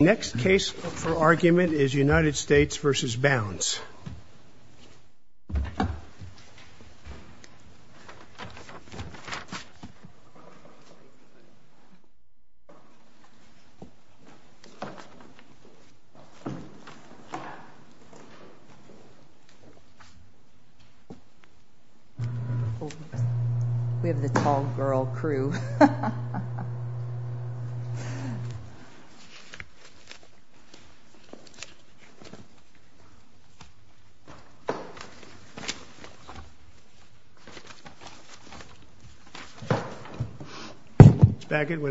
The next case for argument is United States v. Bounds. We have the tall girl crew. I'm going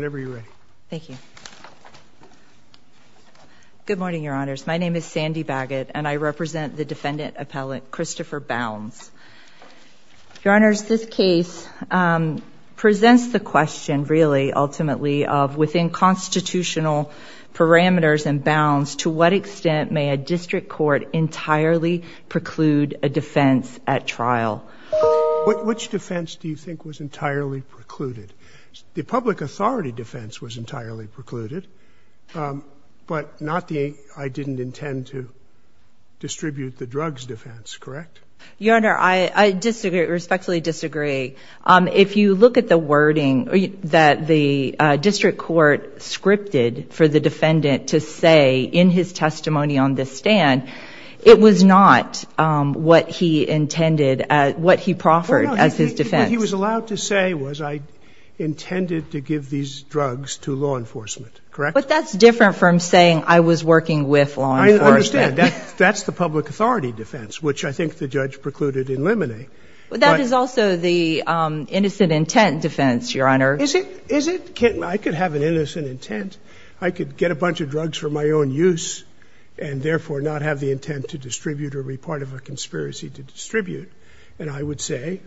to call the witness. Good morning, your honors. My name is Sandy Baggett and I represent the defendant appellate Christopher Bounds. Your honors, this case presents the question really ultimately of within constitutional parameters and bounds, to what extent may a district court entirely preclude a defense at trial? Which defense do you think was entirely precluded? The public authority defense was entirely precluded, but not the I didn't intend to distribute the drugs defense, correct? Your honor, I respectfully disagree. If you look at the wording that the district court scripted for the defendant to say in his testimony on this stand, it was not what he intended, what he proffered as his defense. What he was allowed to say was I intended to give these drugs to law enforcement, correct? But that's different from saying I was working with law enforcement. I understand. That's the public authority defense, which I think the judge precluded in limine. But that is also the innocent intent defense, your honor. Is it? I could have an innocent intent. I could get a bunch of drugs for my own use and therefore not have the intent to distribute or be part of a conspiracy to distribute. And I would say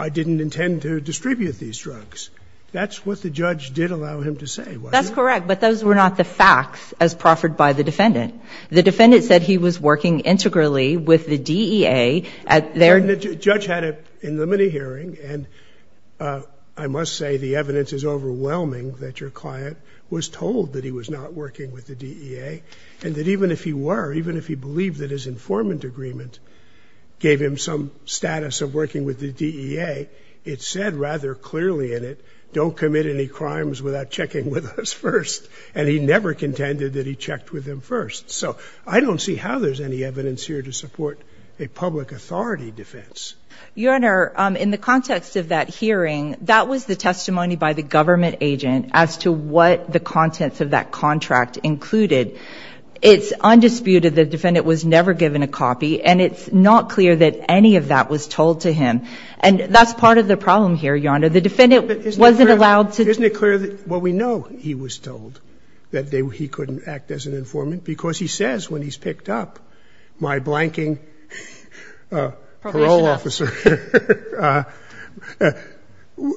I didn't intend to distribute these drugs. That's what the judge did allow him to say. That's correct. But those were not the facts as proffered by the defendant. The defendant said he was working integrally with the DEA. And the judge had in the mini-hearing, and I must say the evidence is overwhelming that your client was told that he was not working with the DEA, and that even if he were, even if he believed that his informant agreement gave him some status of working with the DEA, it said rather clearly in it, don't commit any crimes without checking with us first. And he never contended that he checked with them first. So I don't see how there's any evidence here to support a public authority defense. Your honor, in the context of that hearing, that was the testimony by the government agent as to what the contents of that contract included. It's undisputed the defendant was never given a copy. And it's not clear that any of that was told to him. And that's part of the problem here, your honor. The defendant wasn't allowed to. Isn't it clear that what we know he was told, that he couldn't act as an informant because he says when he's picked up, my blanking parole officer,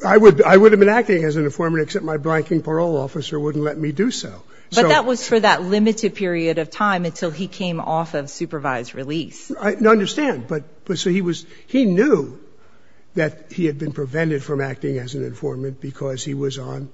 I would have been acting as an informant except my blanking parole officer wouldn't let me do so. But that was for that limited period of time until he came off of supervised release. I understand. But so he was, he knew that he had been prevented from acting as an informant because he was on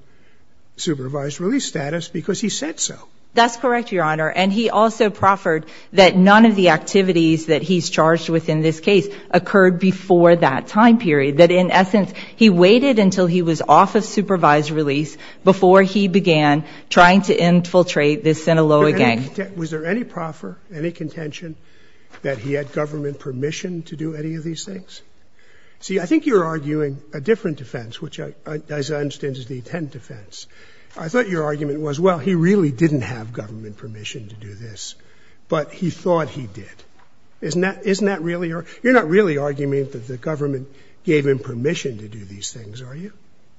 supervised release status because he said so. That's correct, your honor. And he also proffered that none of the activities that he's charged with in this case occurred before that time period. That in essence, he waited until he was off of supervised release before he began trying to infiltrate this Sinaloa gang. Was there any proffer, any contention that he had government permission to do any of these things? See, I think you're arguing a different defense, which as I understand is the intent defense. I thought your argument was, well, he really didn't have government permission to do this, but he thought he did. Isn't that, isn't that really, you're not really arguing that the government gave him permission to do these things, are you?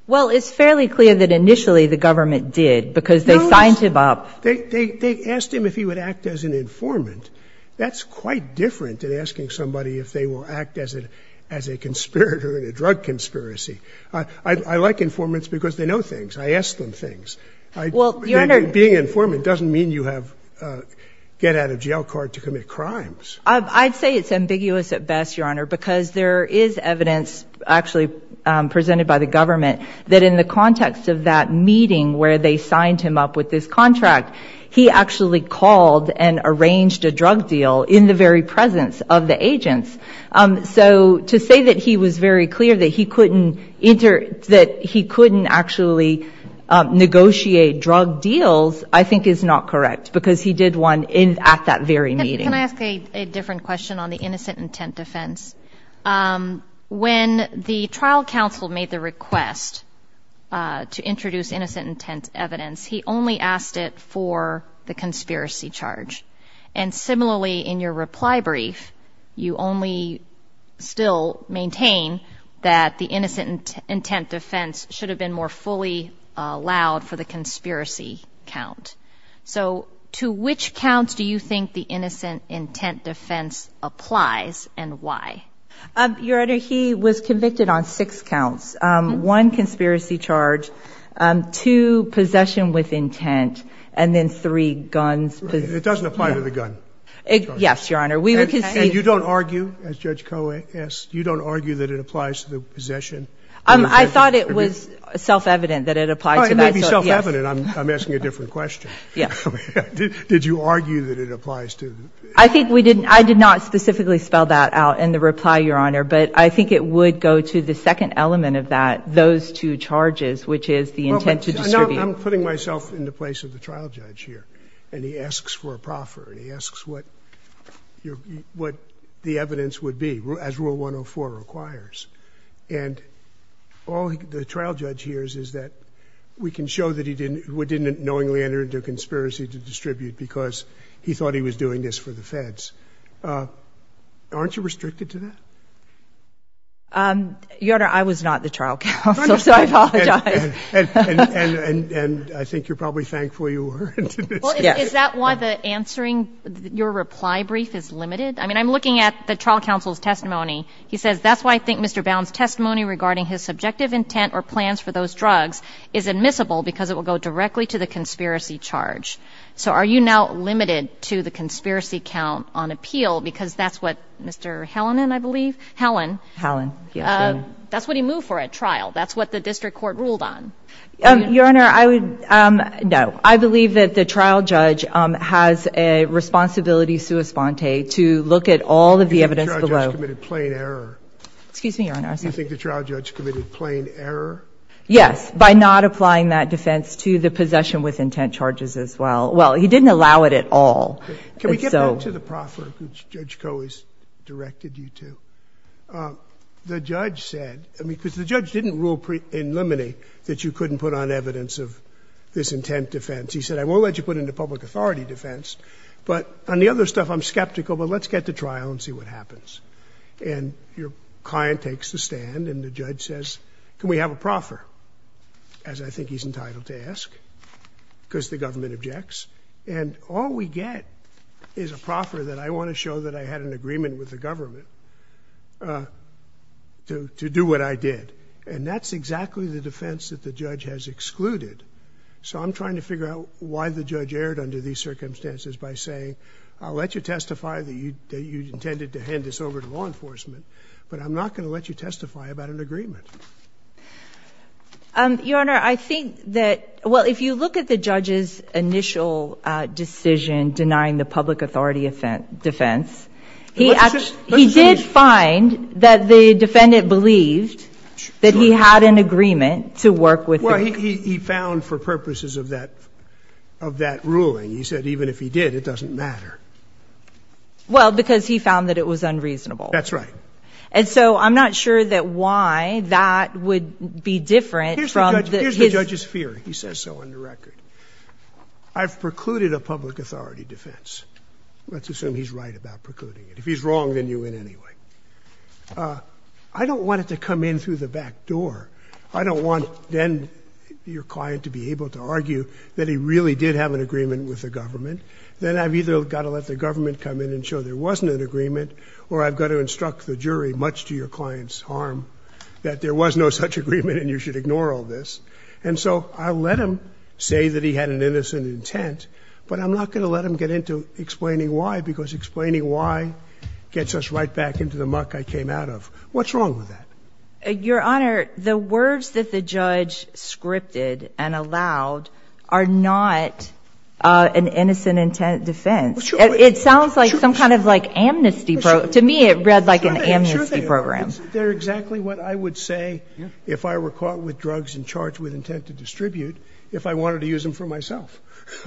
Well, it's fairly clear that initially the government did because they signed him up. They asked him if he would act as an informant. That's quite different than asking somebody if they will act as a conspirator in a drug conspiracy. I like informants because they know things. I ask them things. Well, your honor. I'd say it's ambiguous at best, your honor, because there is evidence actually presented by the government that in the context of that meeting where they signed him up with this contract, he actually called and arranged a drug deal in the very presence of the agents. So to say that he was very clear that he couldn't enter, that he couldn't actually negotiate drug deals, I think is not correct because he did one in at that very meeting. Can I ask a different question on the innocent intent defense? When the trial counsel made the request to introduce innocent intent evidence, he only asked it for the conspiracy charge. And similarly, in your reply brief, you only still maintain that the innocent intent defense should have been more fully allowed for the conspiracy count. So to which counts do you think the innocent intent defense applies and why? Your honor, he was convicted on six counts, one conspiracy charge, two possession with intent, and then three guns. It doesn't apply to the gun. Yes, your honor. And you don't argue, as Judge Koh asked, you don't argue that it applies to the possession? I thought it was self-evident that it applied to that. It may be self-evident. I'm asking a different question. Did you argue that it applies to the possession? I did not specifically spell that out in the reply, your honor. But I think it would go to the second element of that, those two charges, which is the intent to distribute. I'm putting myself in the place of the trial judge here. And he asks for a proffer, and he asks what the evidence would be, as Rule 104 requires. And all the trial judge hears is that we can show that he didn't knowingly enter into a conspiracy to distribute because he thought he was doing this for the feds. Aren't you restricted to that? Your honor, I was not the trial counsel, so I apologize. And I think you're probably thankful you weren't. Yes. Is that why the answering, your reply brief is limited? I mean, I'm looking at the trial counsel's testimony. He says, that's why I think Mr. Bowne's testimony regarding his subjective intent or plans for those drugs is admissible because it will go directly to the conspiracy charge. So are you now limited to the conspiracy count on appeal because that's what Mr. Hellinan, I believe? Helen. Helen. That's what he moved for at trial. That's what the district court ruled on. Your honor, I would no. I believe that the trial judge has a responsibility sua sponte to look at all of the evidence in the defense below. The trial judge committed plain error. Excuse me, your honor. Do you think the trial judge committed plain error? Yes. By not applying that defense to the possession with intent charges as well. Well, he didn't allow it at all. Can we get back to the proffer which Judge Coe has directed you to? The judge said, I mean, because the judge didn't rule in limine that you couldn't put on evidence of this intent defense. He said, I won't let you put it into public authority defense. But on the other stuff, I'm skeptical, but let's get to trial and see what happens. And your client takes the stand and the judge says, can we have a proffer? As I think he's entitled to ask because the government objects. And all we get is a proffer that I want to show that I had an agreement with the government to do what I did. And that's exactly the defense that the judge has excluded. So I'm trying to figure out why the judge erred under these circumstances by saying, I'll let you testify that you intended to hand this over to law enforcement, but I'm not going to let you testify about an agreement. Your honor, I think that, well, if you look at the judge's initial decision denying the public authority defense, he did find that the defendant believed that he had an agreement to work with the government. Well, he found for purposes of that ruling. He said, even if he did, it doesn't matter. Well, because he found that it was unreasonable. That's right. And so I'm not sure that why that would be different from the... Here's the judge's theory. He says so on the record. I've precluded a public authority defense. Let's assume he's right about precluding it. If he's wrong, then you win anyway. I don't want it to come in through the back door. I don't want then your client to be able to argue that he really did have an agreement with the government. Then I've either got to let the government come in and show there wasn't an agreement or I've got to instruct the jury, much to your client's harm, that there was no such agreement and you should ignore all this. And so I'll let him say that he had an innocent intent, but I'm not going to let him get into explaining why, because explaining why gets us right back into the muck I came out of. What's wrong with that? Your Honor, the words that the judge scripted and allowed are not an innocent intent defense. It sounds like some kind of amnesty. To me, it read like an amnesty program. Isn't there exactly what I would say if I were caught with drugs and charged with intent to distribute if I wanted to use them for myself?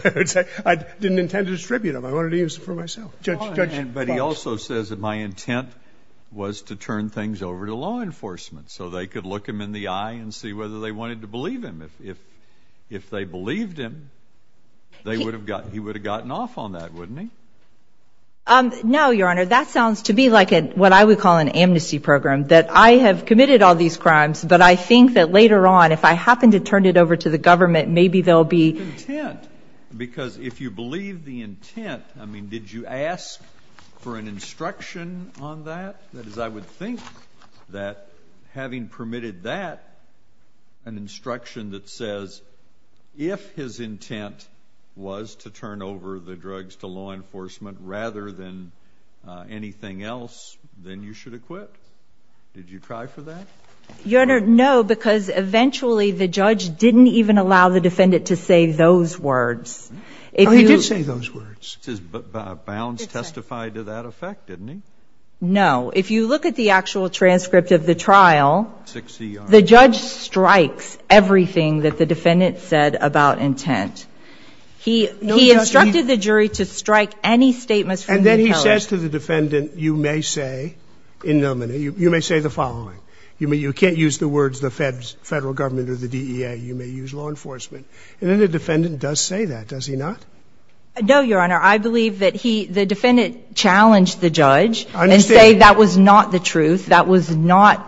I didn't intend to distribute them. I wanted to use them for myself. But he also says that my intent was to turn things over to law enforcement so they could look him in the eye and see whether they wanted to believe him. If they believed him, he would have gotten off on that, wouldn't he? No, Your Honor. That sounds to me like what I would call an amnesty program, that I have committed all these crimes, but I think that later on if I happen to turn it over to the government, maybe there will be – Because if you believe the intent, I mean, did you ask for an instruction on that? That is, I would think that having permitted that, an instruction that says if his intent was to turn over the drugs to law enforcement rather than anything else, then you should acquit. Did you try for that? Your Honor, no, because eventually the judge didn't even allow the defendant to say those words. Oh, he did say those words. Bounds testified to that effect, didn't he? No. If you look at the actual transcript of the trial, the judge strikes everything that the defendant said about intent. He instructed the jury to strike any statements from the impeller. And then he says to the defendant, you may say, you may say the following. You can't use the words the federal government or the DEA. You may use law enforcement. And then the defendant does say that, does he not? No, Your Honor. I believe that he – the defendant challenged the judge and said that was not the truth. That was not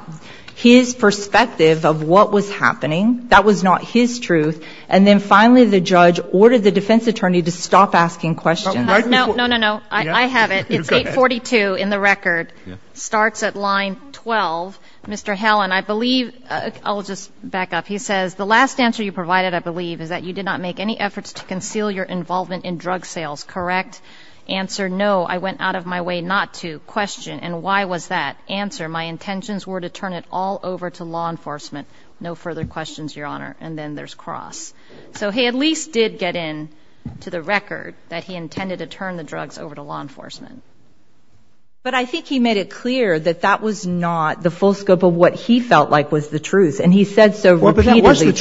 his perspective of what was happening. That was not his truth. And then finally the judge ordered the defense attorney to stop asking questions. No, no, no, no. I have it. It's 842 in the record. Starts at line 12. Mr. Hellen, I believe – I'll just back up. He says, the last answer you provided, I believe, is that you did not make any efforts to conceal your involvement in drug sales, correct? Answer, no, I went out of my way not to. Question, and why was that? Answer, my intentions were to turn it all over to law enforcement. No further questions, Your Honor. And then there's cross. So he at least did get in to the record that he intended to turn the drugs over to law enforcement. But I think he made it clear that that was not the full scope of what he felt like was the truth. And he said so repeatedly to the judge. Well, but that was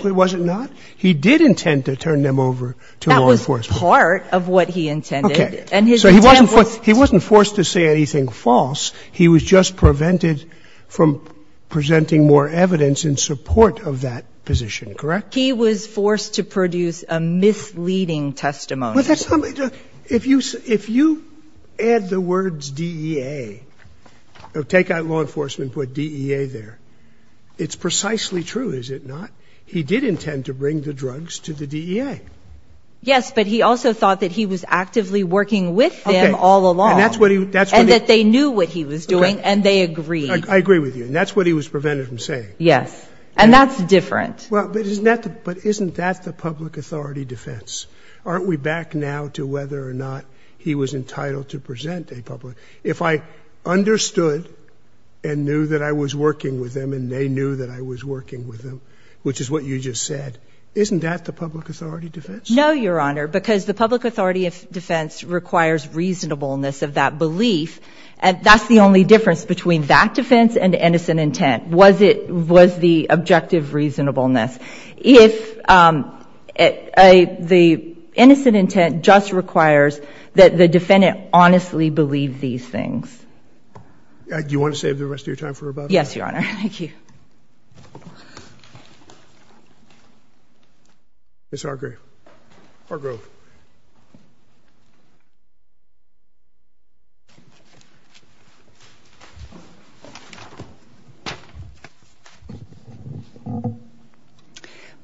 the truth. Was it not? He did intend to turn them over to law enforcement. That was part of what he intended. Okay. So he wasn't forced to say anything false. He was just prevented from presenting more evidence in support of that position, correct? He was forced to produce a misleading testimony. Well, that's not – if you add the words DEA, take out law enforcement and put DEA there, it's precisely true, is it not? He did intend to bring the drugs to the DEA. Yes, but he also thought that he was actively working with them all along. And that's what he – that's what he – And that they knew what he was doing and they agreed. I agree with you. And that's what he was prevented from saying. Yes. And that's different. Well, but isn't that the public authority defense? Aren't we back now to whether or not he was entitled to present a public – if I understood and knew that I was working with them and they knew that I was working with them, which is what you just said, isn't that the public authority defense? No, Your Honor, because the public authority defense requires reasonableness of that belief. And that's the only difference between that defense and innocent intent was it – was the objective reasonableness. If the innocent intent just requires that the defendant honestly believed these things. Do you want to save the rest of your time for about a minute? Yes, Your Honor. Ms. Hargrove. Hargrove.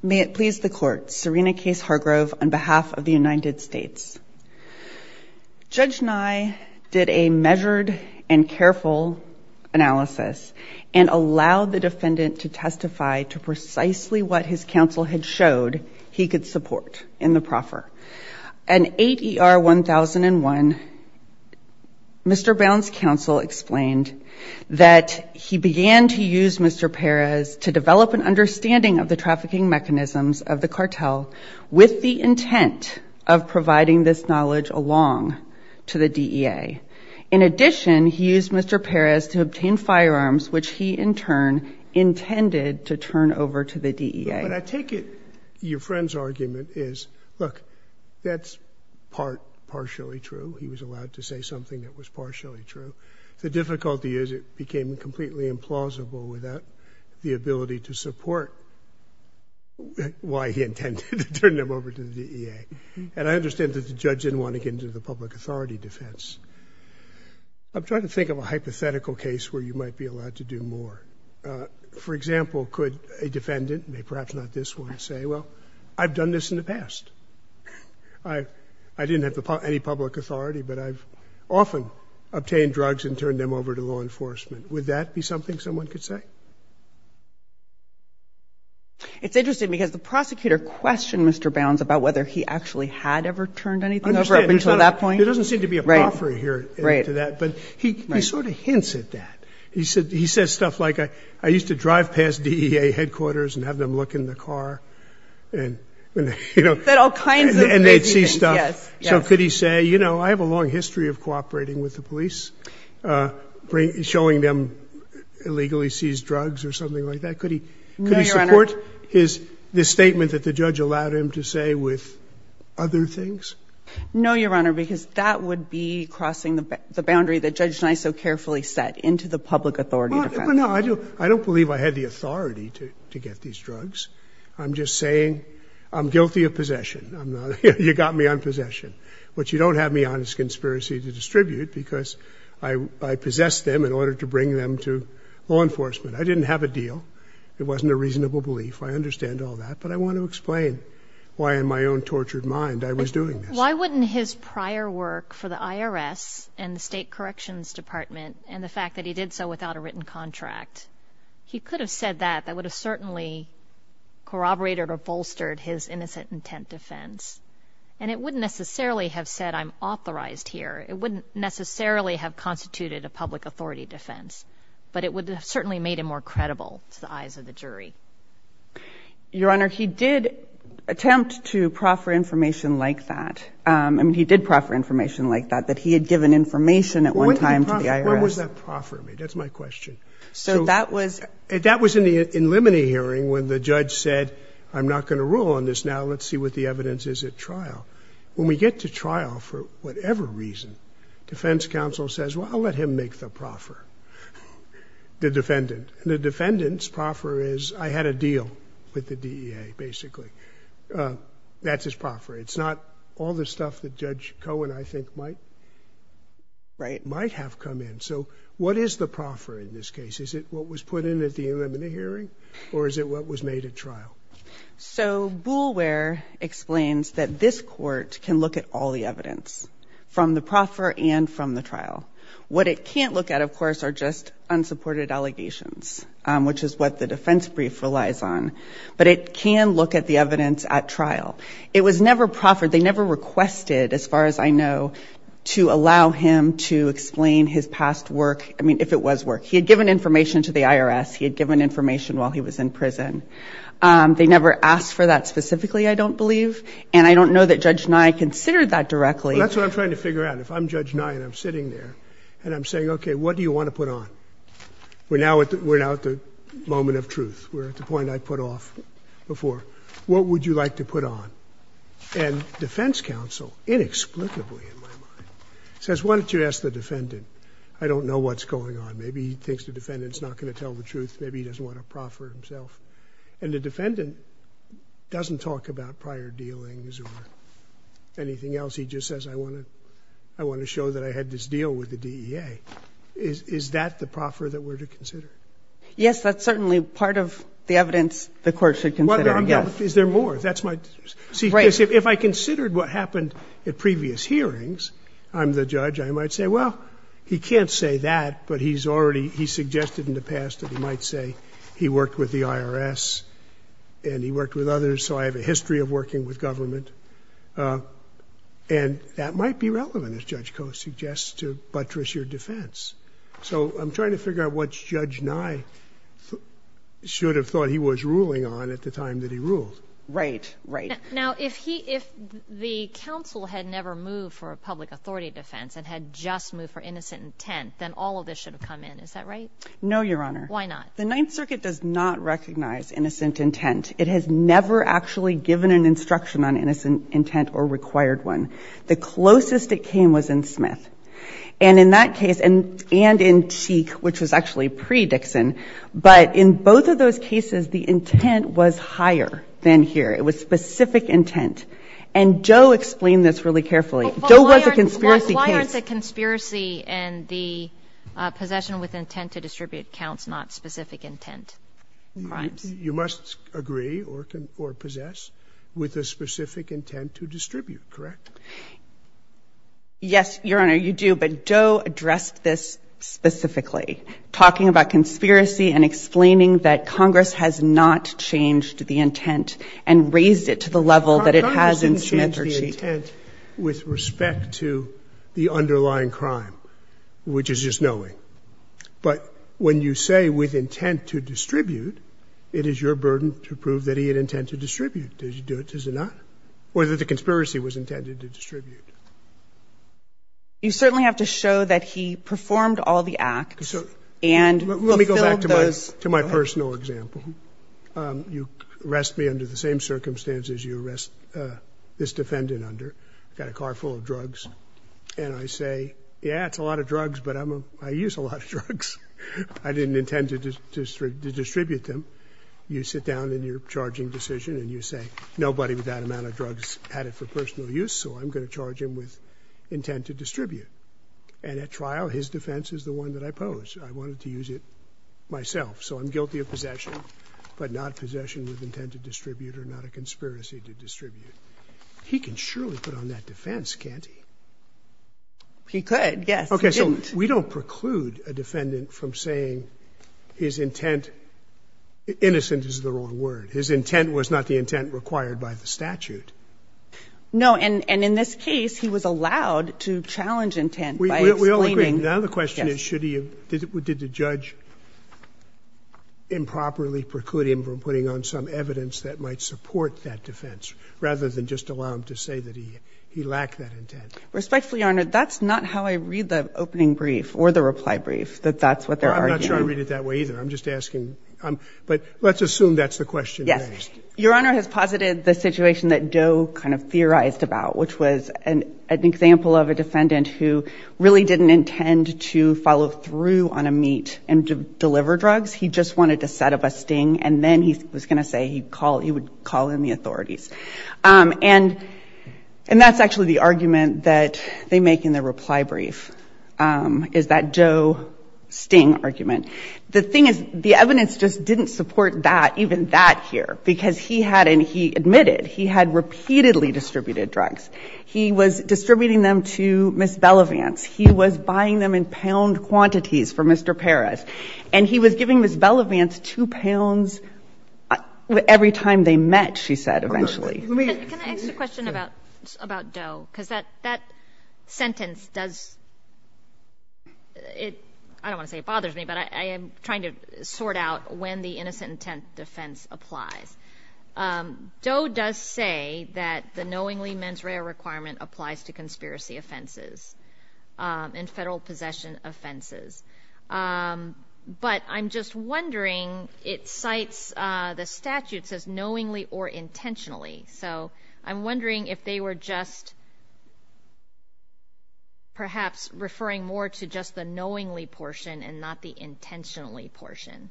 May it please the Court, Serena Case Hargrove on behalf of the United States. Judge Nye did a measured and careful analysis and allowed the defendant to testify to precisely what his counsel had showed he could support in the proffer. In 8 ER 1001, Mr. Bowne's counsel explained that he began to use Mr. Perez to develop an understanding of the trafficking mechanisms of the cartel with the intent of providing this knowledge along to the DEA. In addition, he used Mr. Perez to obtain firearms, which he in turn intended to turn over to the DEA. But I take it your friend's argument is, look, that's partially true. He was allowed to say something that was partially true. The difficulty is it became completely implausible without the ability to support why he intended to turn them over to the DEA. And I understand that the judge didn't want to get into the public authority defense. I'm trying to think of a hypothetical case where you might be allowed to do more. For example, could a defendant, perhaps not this one, say, well, I've done this in the past. I didn't have any public authority, but I've often obtained drugs and turned them over to law enforcement. Would that be something someone could say? It's interesting because the prosecutor questioned Mr. Bounds about whether he actually had ever turned anything over up until that point. There doesn't seem to be a proffering here to that, but he sort of hints at that. He says stuff like, I used to drive past DEA headquarters and have them look in the car and, you know, and they'd see stuff. So could he say, you know, I have a long history of cooperating with the police, showing them illegally seized drugs or something like that? No, Your Honor. Could he support this statement that the judge allowed him to say with other things? No, Your Honor, because that would be crossing the boundary that Judge Schneisow carefully set into the public authority defense. Well, no, I don't believe I had the authority to get these drugs. I'm just saying I'm guilty of possession. You got me on possession. I didn't have a deal. It wasn't a reasonable belief. I understand all that, but I want to explain why in my own tortured mind I was doing this. Why wouldn't his prior work for the IRS and the State Corrections Department and the fact that he did so without a written contract, he could have said that. That would have certainly corroborated or bolstered his innocent intent defense. And it wouldn't necessarily have said I'm authorized here. It wouldn't necessarily have constituted a public authority defense. But it would have certainly made him more credible to the eyes of the jury. Your Honor, he did attempt to proffer information like that. I mean, he did proffer information like that, that he had given information at one time to the IRS. When was that proffered? That's my question. So that was... That was in the in limine hearing when the judge said, I'm not going to rule on this now. Let's see what the evidence is at trial. When we get to trial, for whatever reason, defense counsel says, well, I'll let him make the proffer. The defendant. The defendant's proffer is I had a deal with the DEA, basically. That's his proffer. It's not all the stuff that Judge Cohen, I think, might have come in. So what is the proffer in this case? Is it what was put in at the in limine hearing or is it what was made at trial? So Boulware explains that this court can look at all the evidence from the proffer and from the trial. What it can't look at, of course, are just unsupported allegations, which is what the defense brief relies on. But it can look at the evidence at trial. It was never proffered. They never requested, as far as I know, to allow him to explain his past work. I mean, if it was work. He had given information to the IRS. He had given information while he was in prison. They never asked for that specifically, I don't believe. And I don't know that Judge Nye considered that directly. That's what I'm trying to figure out. If I'm Judge Nye and I'm sitting there and I'm saying, okay, what do you want to put on? We're now at the moment of truth. We're at the point I put off before. What would you like to put on? And defense counsel, inexplicably in my mind, says, why don't you ask the defendant? I don't know what's going on. Maybe he thinks the defendant is not going to tell the truth. Maybe he doesn't want to proffer himself. And the defendant doesn't talk about prior dealings or anything else. He just says, I want to show that I had this deal with the DEA. Is that the proffer that we're to consider? Yes, that's certainly part of the evidence the court should consider, yes. Is there more? See, if I considered what happened at previous hearings, I'm the judge, I might say, well, he can't say that, but he suggested in the past that he might say he worked with the IRS and he worked with others, so I have a history of working with government. And that might be relevant, as Judge Koh suggests, to buttress your defense. So I'm trying to figure out what Judge Nye should have thought he was ruling on at the time that he ruled. Right, right. Now, if he – if the counsel had never moved for a public authority defense and had just moved for innocent intent, then all of this should have come in. Is that right? No, Your Honor. Why not? The Ninth Circuit does not recognize innocent intent. It has never actually given an instruction on innocent intent or required one. The closest it came was in Smith. And in that case, and in Cheek, which was actually pre-Dixon, but in both of those cases, the intent was higher than here. It was specific intent. And Doe explained this really carefully. Doe was a conspiracy case. Why aren't the conspiracy and the possession with intent to distribute counts not specific intent crimes? You must agree or possess with a specific intent to distribute, correct? Yes, Your Honor, you do. But Doe addressed this specifically, talking about conspiracy and explaining that Congress has not changed the intent and raised it to the level that it has in Smith or Cheek. Congress didn't change the intent with respect to the underlying crime, which is just knowing. But when you say with intent to distribute, it is your burden to prove that he had intent to distribute. Does he do it? Does he not? Or that the conspiracy was intended to distribute? You certainly have to show that he performed all the acts and fulfilled those. To my personal example, you arrest me under the same circumstances you arrest this defendant under. I've got a car full of drugs. And I say, yeah, it's a lot of drugs, but I use a lot of drugs. I didn't intend to distribute them. You sit down in your charging decision and you say, nobody with that amount of drugs had it for personal use, so I'm going to charge him with intent to distribute. And at trial, his defense is the one that I pose. I wanted to use it myself. So I'm guilty of possession, but not possession with intent to distribute or not a conspiracy to distribute. He can surely put on that defense, can't he? He could, yes. He didn't. Okay. So we don't preclude a defendant from saying his intent, innocent is the wrong word, his intent was not the intent required by the statute. No. And in this case, he was allowed to challenge intent by explaining. Now the question is, should he have, did the judge improperly preclude him from putting on some evidence that might support that defense, rather than just allow him to say that he lacked that intent? Respectfully, Your Honor, that's not how I read the opening brief or the reply brief, that that's what they're arguing. I'm not sure I read it that way either. I'm just asking. But let's assume that's the question. Yes. Your Honor has posited the situation that Doe kind of theorized about, which was an example of a defendant who really didn't intend to follow through on a meet and deliver drugs. He just wanted to set up a sting, and then he was going to say he would call in the authorities. And that's actually the argument that they make in the reply brief, is that Doe sting argument. The thing is, the evidence just didn't support that, even that here, because he had, and he admitted, he had repeatedly distributed drugs. He was distributing them to Ms. Belevance. He was buying them in pound quantities for Mr. Perez. And he was giving Ms. Belevance two pounds every time they met, she said, eventually. Let me ask you a question about Doe, because that sentence does — I don't want to say it bothers me, but I am trying to sort out when the innocent intent defense applies. Doe does say that the knowingly mens rea requirement applies to conspiracy offenses and federal possession offenses. But I'm just wondering, it cites the statute, it says knowingly or intentionally. So I'm wondering if they were just perhaps referring more to just the knowingly portion and not the intentionally portion.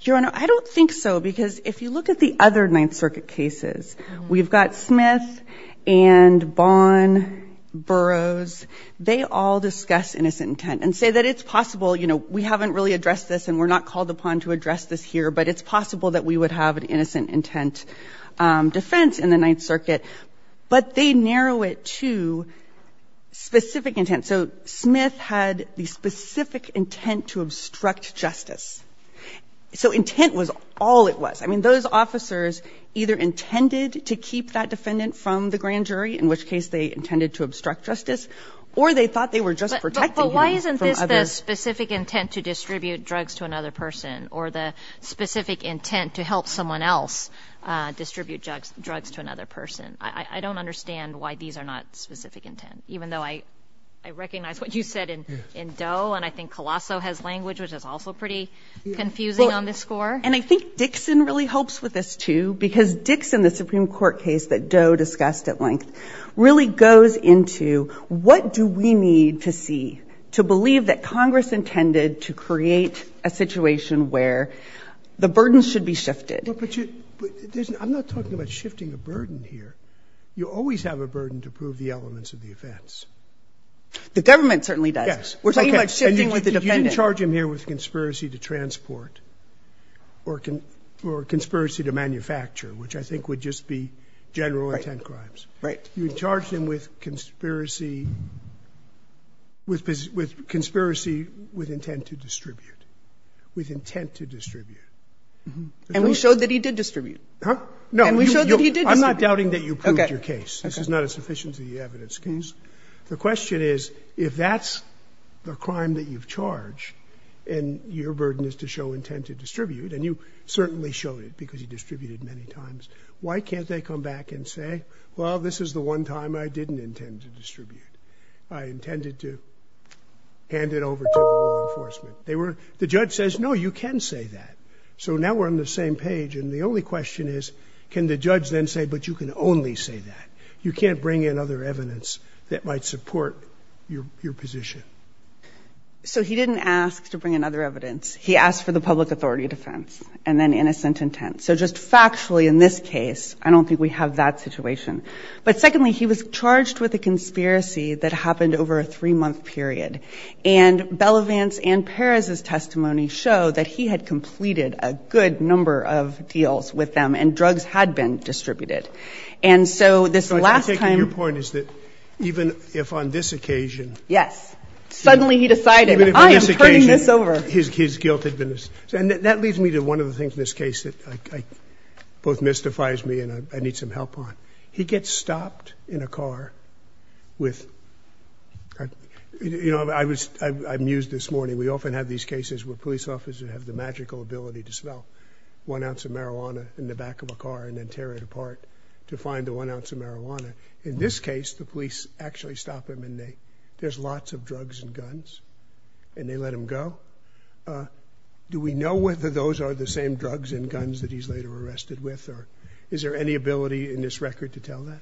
Your Honor, I don't think so, because if you look at the other Ninth Circuit cases, we've got Smith and Bonn, Burroughs, they all discuss innocent intent and say that it's possible, you know, we haven't really addressed this and we're not called upon to address this here, but it's possible that we would have an innocent intent defense in the Ninth Circuit. But they narrow it to specific intent. And so Smith had the specific intent to obstruct justice. So intent was all it was. I mean, those officers either intended to keep that defendant from the grand jury, in which case they intended to obstruct justice, or they thought they were just protecting him from others. But why isn't this the specific intent to distribute drugs to another person or the specific intent to help someone else distribute drugs to another person? I don't understand why these are not specific intent, even though I recognize what you said in Doe, and I think Colosso has language, which is also pretty confusing on this score. And I think Dixon really helps with this, too, because Dixon, the Supreme Court case that Doe discussed at length, really goes into what do we need to see to believe that Congress intended to create a situation where the burden should be shifted. But I'm not talking about shifting a burden here. You always have a burden to prove the elements of the offense. The government certainly does. Yes. We're talking about shifting with the defendant. You didn't charge him here with conspiracy to transport or conspiracy to manufacture, which I think would just be general intent crimes. Right. You charged him with conspiracy with intent to distribute, with intent to distribute. And we showed that he did distribute. Huh? No. And we showed that he did distribute. I'm not doubting that you proved your case. Okay. This is not sufficient to the evidence. The question is, if that's the crime that you've charged and your burden is to show intent to distribute, and you certainly showed it because you distributed many times, why can't they come back and say, well, this is the one time I didn't intend to distribute? I intended to hand it over to law enforcement. The judge says, no, you can say that. So now we're on the same page. And the only question is, can the judge then say, but you can only say that? You can't bring in other evidence that might support your position. So he didn't ask to bring in other evidence. He asked for the public authority defense and then innocent intent. So just factually in this case, I don't think we have that situation. But secondly, he was charged with a conspiracy that happened over a three-month period. And Belovance and Perez's testimony show that he had completed a good number of deals with them and drugs had been distributed. And so this last time – Your point is that even if on this occasion – Yes. Suddenly he decided, I am turning this over. His guilt had been – and that leads me to one of the things in this case that both mystifies me and I need some help on. He gets stopped in a car with – you know, I was amused this morning. We often have these cases where police officers have the magical ability to smell one ounce of marijuana in the back of a car and then tear it apart to find the one ounce of marijuana. In this case, the police actually stop him and they – there's lots of drugs and guns. And they let him go. Do we know whether those are the same drugs and guns that he's later arrested with? Or is there any ability in this record to tell that?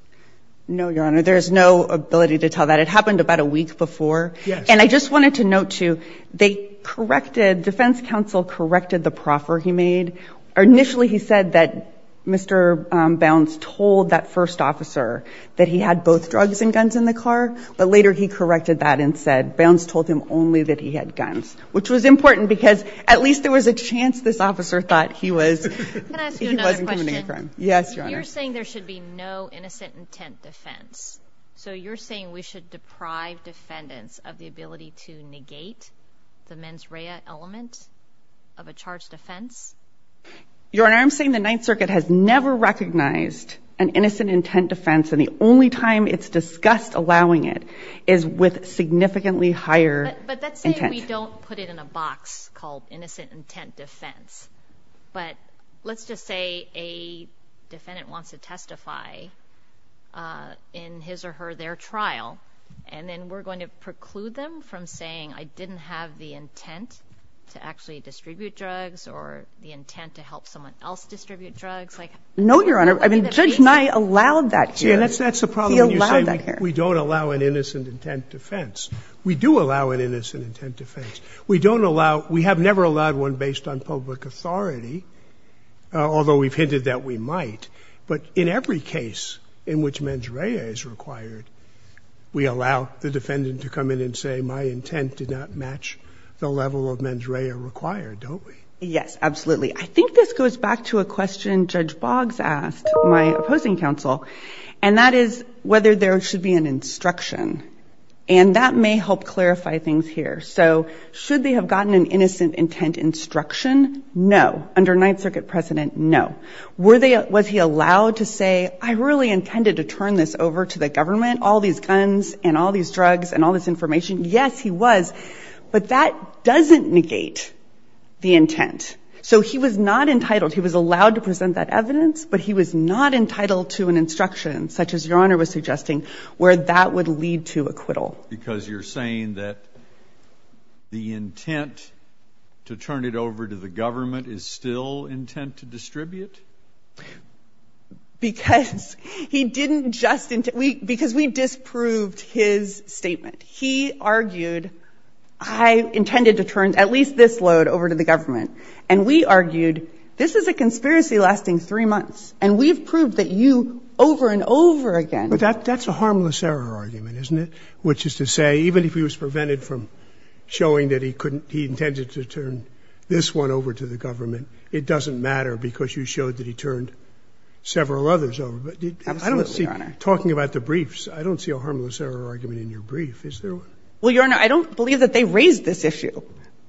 No, Your Honor. There is no ability to tell that. It happened about a week before. Yes. And I just wanted to note, too, they corrected – Defense Counsel corrected the proffer he made. Initially he said that Mr. Bounce told that first officer that he had both drugs and guns in the car. But later he corrected that and said Bounce told him only that he had guns, which was important because at least there was a chance this officer thought he was – Can I ask you another question? He wasn't committing a crime. Yes, Your Honor. You're saying there should be no innocent intent defense. So you're saying we should deprive defendants of the ability to negate the mens rea element of a charged offense? Your Honor, I'm saying the Ninth Circuit has never recognized an innocent intent defense. And the only time it's discussed allowing it is with significantly higher intent. But let's say we don't put it in a box called innocent intent defense. But let's just say a defendant wants to testify in his or her – their trial, and then we're going to preclude them from saying, I didn't have the intent to actually distribute drugs or the intent to help someone else distribute drugs. No, Your Honor. Judge Nye allowed that here. That's the problem when you say we don't allow an innocent intent defense. We do allow an innocent intent defense. We don't allow – we have never allowed one based on public authority, although we've hinted that we might. But in every case in which mens rea is required, we allow the defendant to come in and say, my intent did not match the level of mens rea required, don't we? Yes, absolutely. I think this goes back to a question Judge Boggs asked my opposing counsel, and that is whether there should be an instruction. And that may help clarify things here. So should they have gotten an innocent intent instruction? No. Under Ninth Circuit precedent, no. Were they – was he allowed to say, I really intended to turn this over to the government, all these guns and all these drugs and all this information? Yes, he was. But that doesn't negate the intent. So he was not entitled. He was allowed to present that evidence, but he was not entitled to an instruction such as Your Honor was suggesting where that would lead to acquittal. Because you're saying that the intent to turn it over to the government is still intent to distribute? Because he didn't just – because we disproved his statement. He argued, I intended to turn at least this load over to the government. And we argued, this is a conspiracy lasting three months, and we've proved that you over and over again. But that's a harmless error argument, isn't it? Which is to say, even if he was prevented from showing that he couldn't – he intended to turn this one over to the government, it doesn't matter because you showed that he turned several others over. Absolutely, Your Honor. But I don't see – talking about the briefs, I don't see a harmless error argument in your brief. Is there one? Well, Your Honor, I don't believe that they raised this issue.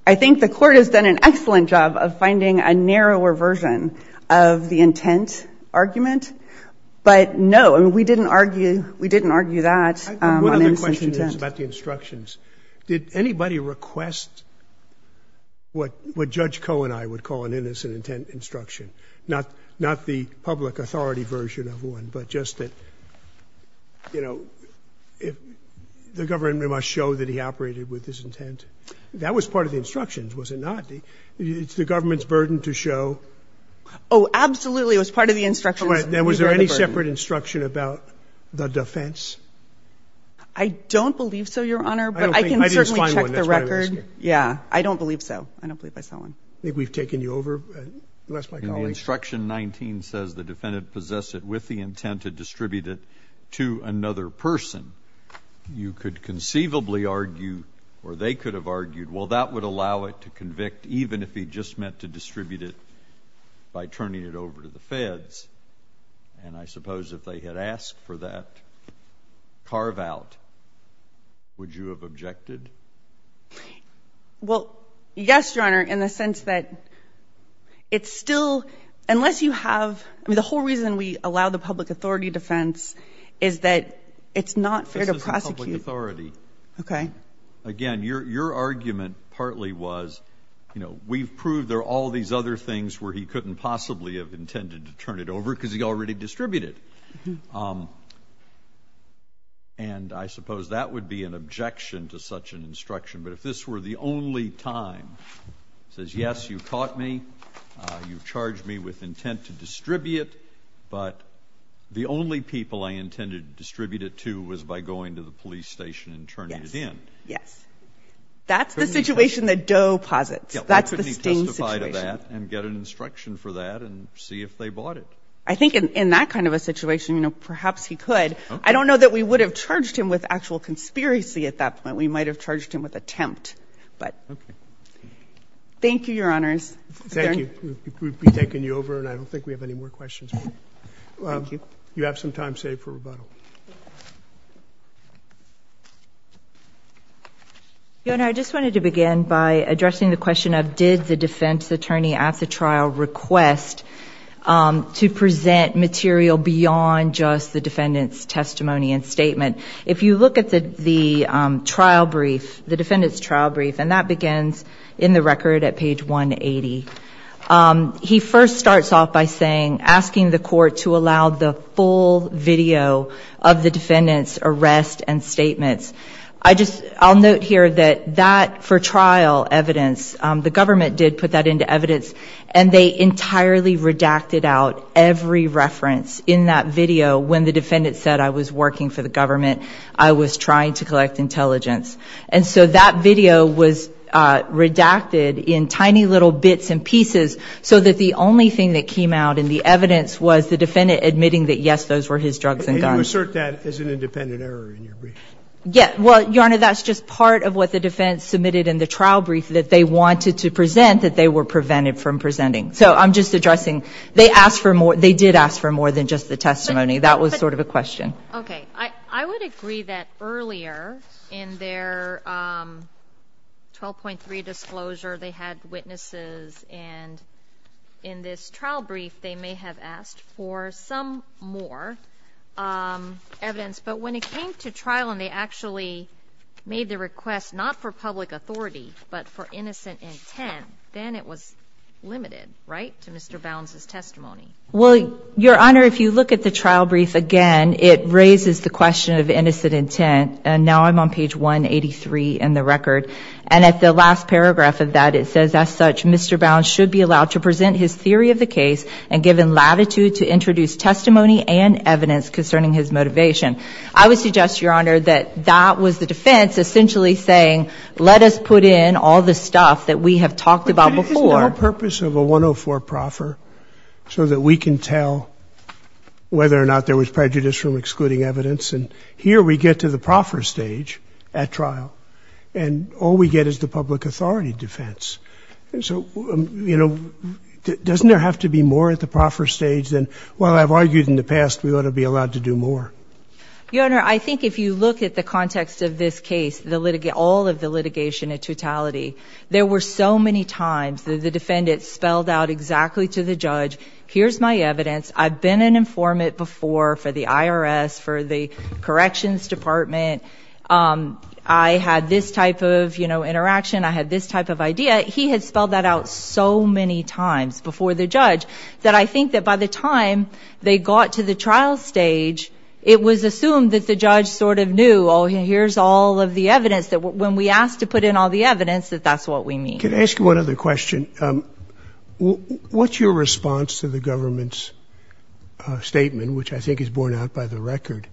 I think the Court has done an excellent job of finding a narrower version of the intent argument. But no, I mean, we didn't argue – we didn't argue that on innocent intent. One of the questions is about the instructions. Did anybody request what Judge Cohen and I would call an innocent intent instruction, not the public authority version of one, but just that, you know, the government must show that he operated with this intent? That was part of the instructions, was it not? It's the government's burden to show – Oh, absolutely, it was part of the instructions. Was there any separate instruction about the defense? I don't believe so, Your Honor, but I can certainly check the record. I didn't find one, that's why I'm asking. Yeah, I don't believe so. I don't believe I saw one. I think we've taken you over. You asked my colleague. In the instruction 19 says the defendant possessed it with the intent to distribute it to another person. You could conceivably argue, or they could have argued, well, that would allow it to convict even if he just meant to distribute it by turning it over to the feds. And I suppose if they had asked for that carve-out, would you have objected? Well, yes, Your Honor, in the sense that it's still – unless you have – I mean, the whole reason we allow the public authority defense is that it's not fair to prosecute. This isn't public authority. Okay. Again, your argument partly was, you know, we've proved there are all these other things where he couldn't possibly have intended to turn it over because he already distributed. And I suppose that would be an objection to such an instruction. But if this were the only time, it says, yes, you caught me, you charged me with intent to distribute, but the only people I intended to distribute it to was by going to the police station and turning it in. Yes. That's the situation that Doe posits. That's the sting situation. Why couldn't he testify to that and get an instruction for that and see if they bought it? I think in that kind of a situation, you know, perhaps he could. I don't know that we would have charged him with actual conspiracy at that point. We might have charged him with attempt. But thank you, Your Honors. Thank you. We've taken you over, and I don't think we have any more questions. Thank you. You have some time saved for rebuttal. Your Honor, I just wanted to begin by addressing the question of, did the defense attorney at the trial request to present material beyond just the defendant's testimony and statement? If you look at the trial brief, the defendant's trial brief, and that begins in the record at page 180. He first starts off by saying, asking the court to allow the full video of the defendant's arrest and statements. I'll note here that that for trial evidence, the government did put that into evidence, and they entirely redacted out every reference in that video when the defendant said, I was working for the government, I was trying to collect intelligence. And so that video was redacted in tiny little bits and pieces so that the only thing that came out in the evidence was the defendant admitting that, yes, those were his drugs and guns. You assert that as an independent error in your brief. Yes. Well, Your Honor, that's just part of what the defense submitted in the trial brief, that they wanted to present, that they were prevented from presenting. So I'm just addressing, they asked for more, they did ask for more than just the testimony. That was sort of a question. Okay. I would agree that earlier in their 12.3 disclosure, they had witnesses, and in this trial brief, they may have asked for some more evidence. But when it came to trial and they actually made the request not for public authority, but for innocent intent, then it was limited, right, to Mr. Bounds' testimony. Well, Your Honor, if you look at the trial brief again, it raises the question of innocent intent. And now I'm on page 183 in the record. And at the last paragraph of that, it says, as such, Mr. Bounds should be allowed to present his theory of the case and given latitude to introduce testimony and evidence concerning his motivation. I would suggest, Your Honor, that that was the defense essentially saying, let us put in all the stuff that we have talked about before. But can you just know the purpose of a 104 proffer so that we can tell whether or not there was prejudice from excluding evidence? And here we get to the proffer stage at trial. And all we get is the public authority defense. So, you know, doesn't there have to be more at the proffer stage than, well, I've argued in the past we ought to be allowed to do more? Your Honor, I think if you look at the context of this case, all of the litigation in totality, there were so many times that the defendant spelled out exactly to the judge, here's my evidence. I've been an informant before for the IRS, for the Corrections Department. I had this type of, you know, interaction. I had this type of idea. He had spelled that out so many times before the judge that I think that by the time they got to the trial stage, it was assumed that the judge sort of knew, oh, here's all of the evidence, that when we asked to put in all the evidence, that that's what we need. Can I ask you one other question? What's your response to the government's statement, which I think is borne out by the record,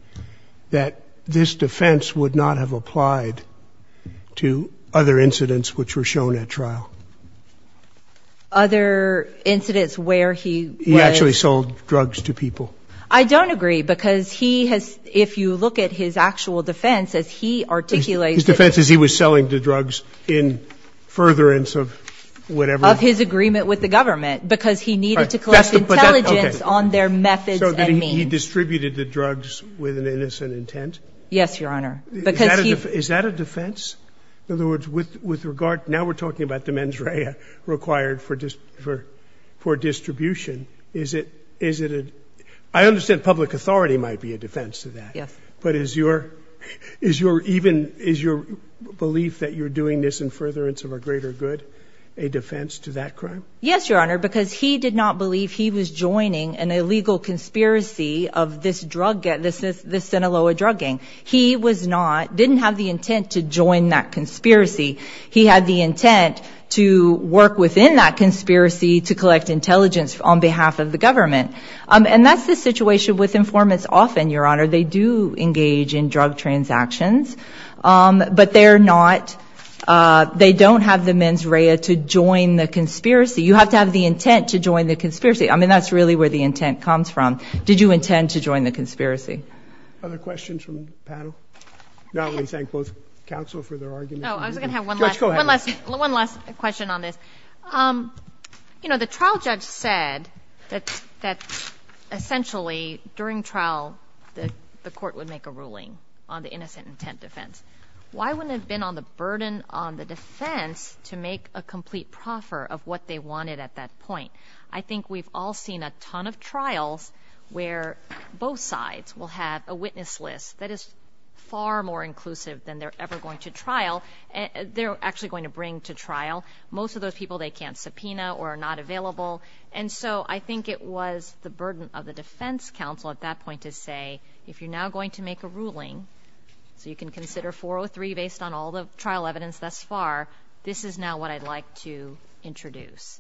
that this defense would not have applied to other incidents which were shown at trial? Other incidents where he was? He actually sold drugs to people. I don't agree because he has, if you look at his actual defense, as he articulates it. His defense is he was selling the drugs in furtherance of whatever. Of his agreement with the government because he needed to collect intelligence on their methods and means. He distributed the drugs with an innocent intent? Yes, Your Honor. Is that a defense? In other words, with regard, now we're talking about the mens rea required for distribution. Is it a, I understand public authority might be a defense to that. Yes. But is your belief that you're doing this in furtherance of a greater good a defense to that crime? Yes, Your Honor, because he did not believe he was joining an illegal conspiracy of this drug, this Sinaloa drugging. He was not, didn't have the intent to join that conspiracy. He had the intent to work within that conspiracy to collect intelligence on behalf of the government. And that's the situation with informants often, Your Honor. They do engage in drug transactions. But they're not, they don't have the mens rea to join the conspiracy. You have to have the intent to join the conspiracy. I mean, that's really where the intent comes from. Did you intend to join the conspiracy? Other questions from the panel? Not only thank both counsel for their arguments. No, I was going to have one last. Judge, go ahead. One last question on this. You know, the trial judge said that essentially during trial the court would make a ruling on the innocent intent defense. Why wouldn't it have been on the burden on the defense to make a complete proffer of what they wanted at that point? I think we've all seen a ton of trials where both sides will have a witness list that is far more inclusive than they're ever going to trial. They're actually going to bring to trial. Most of those people they can't subpoena or are not available. And so I think it was the burden of the defense counsel at that point to say, if you're now going to make a ruling so you can consider 403 based on all the trial evidence thus far, this is now what I'd like to introduce.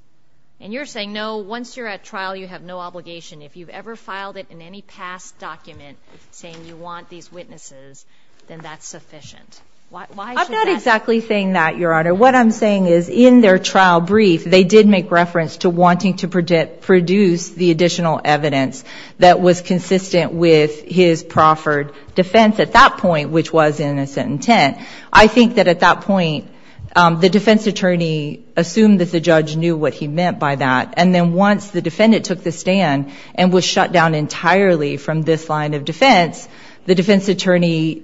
And you're saying, no, once you're at trial you have no obligation. If you've ever filed it in any past document saying you want these witnesses, then that's sufficient. I'm not exactly saying that, Your Honor. What I'm saying is in their trial brief they did make reference to wanting to produce the additional evidence that was consistent with his proffered defense at that point, which was innocent intent. I think that at that point the defense attorney assumed that the judge knew what he meant by that, and then once the defendant took the stand and was shut down entirely from this line of defense, the defense attorney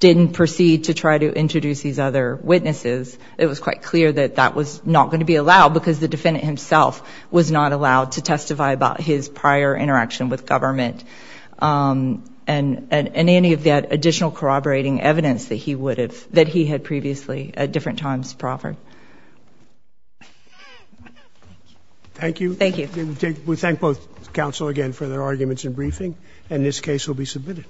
didn't proceed to try to introduce these other witnesses. It was quite clear that that was not going to be allowed, because the defendant himself was not allowed to testify about his prior interaction with government and any of that additional corroborating evidence that he had previously at different times proffered. Thank you. Thank you. We thank both counsel again for their arguments and briefing, and this case will be submitted.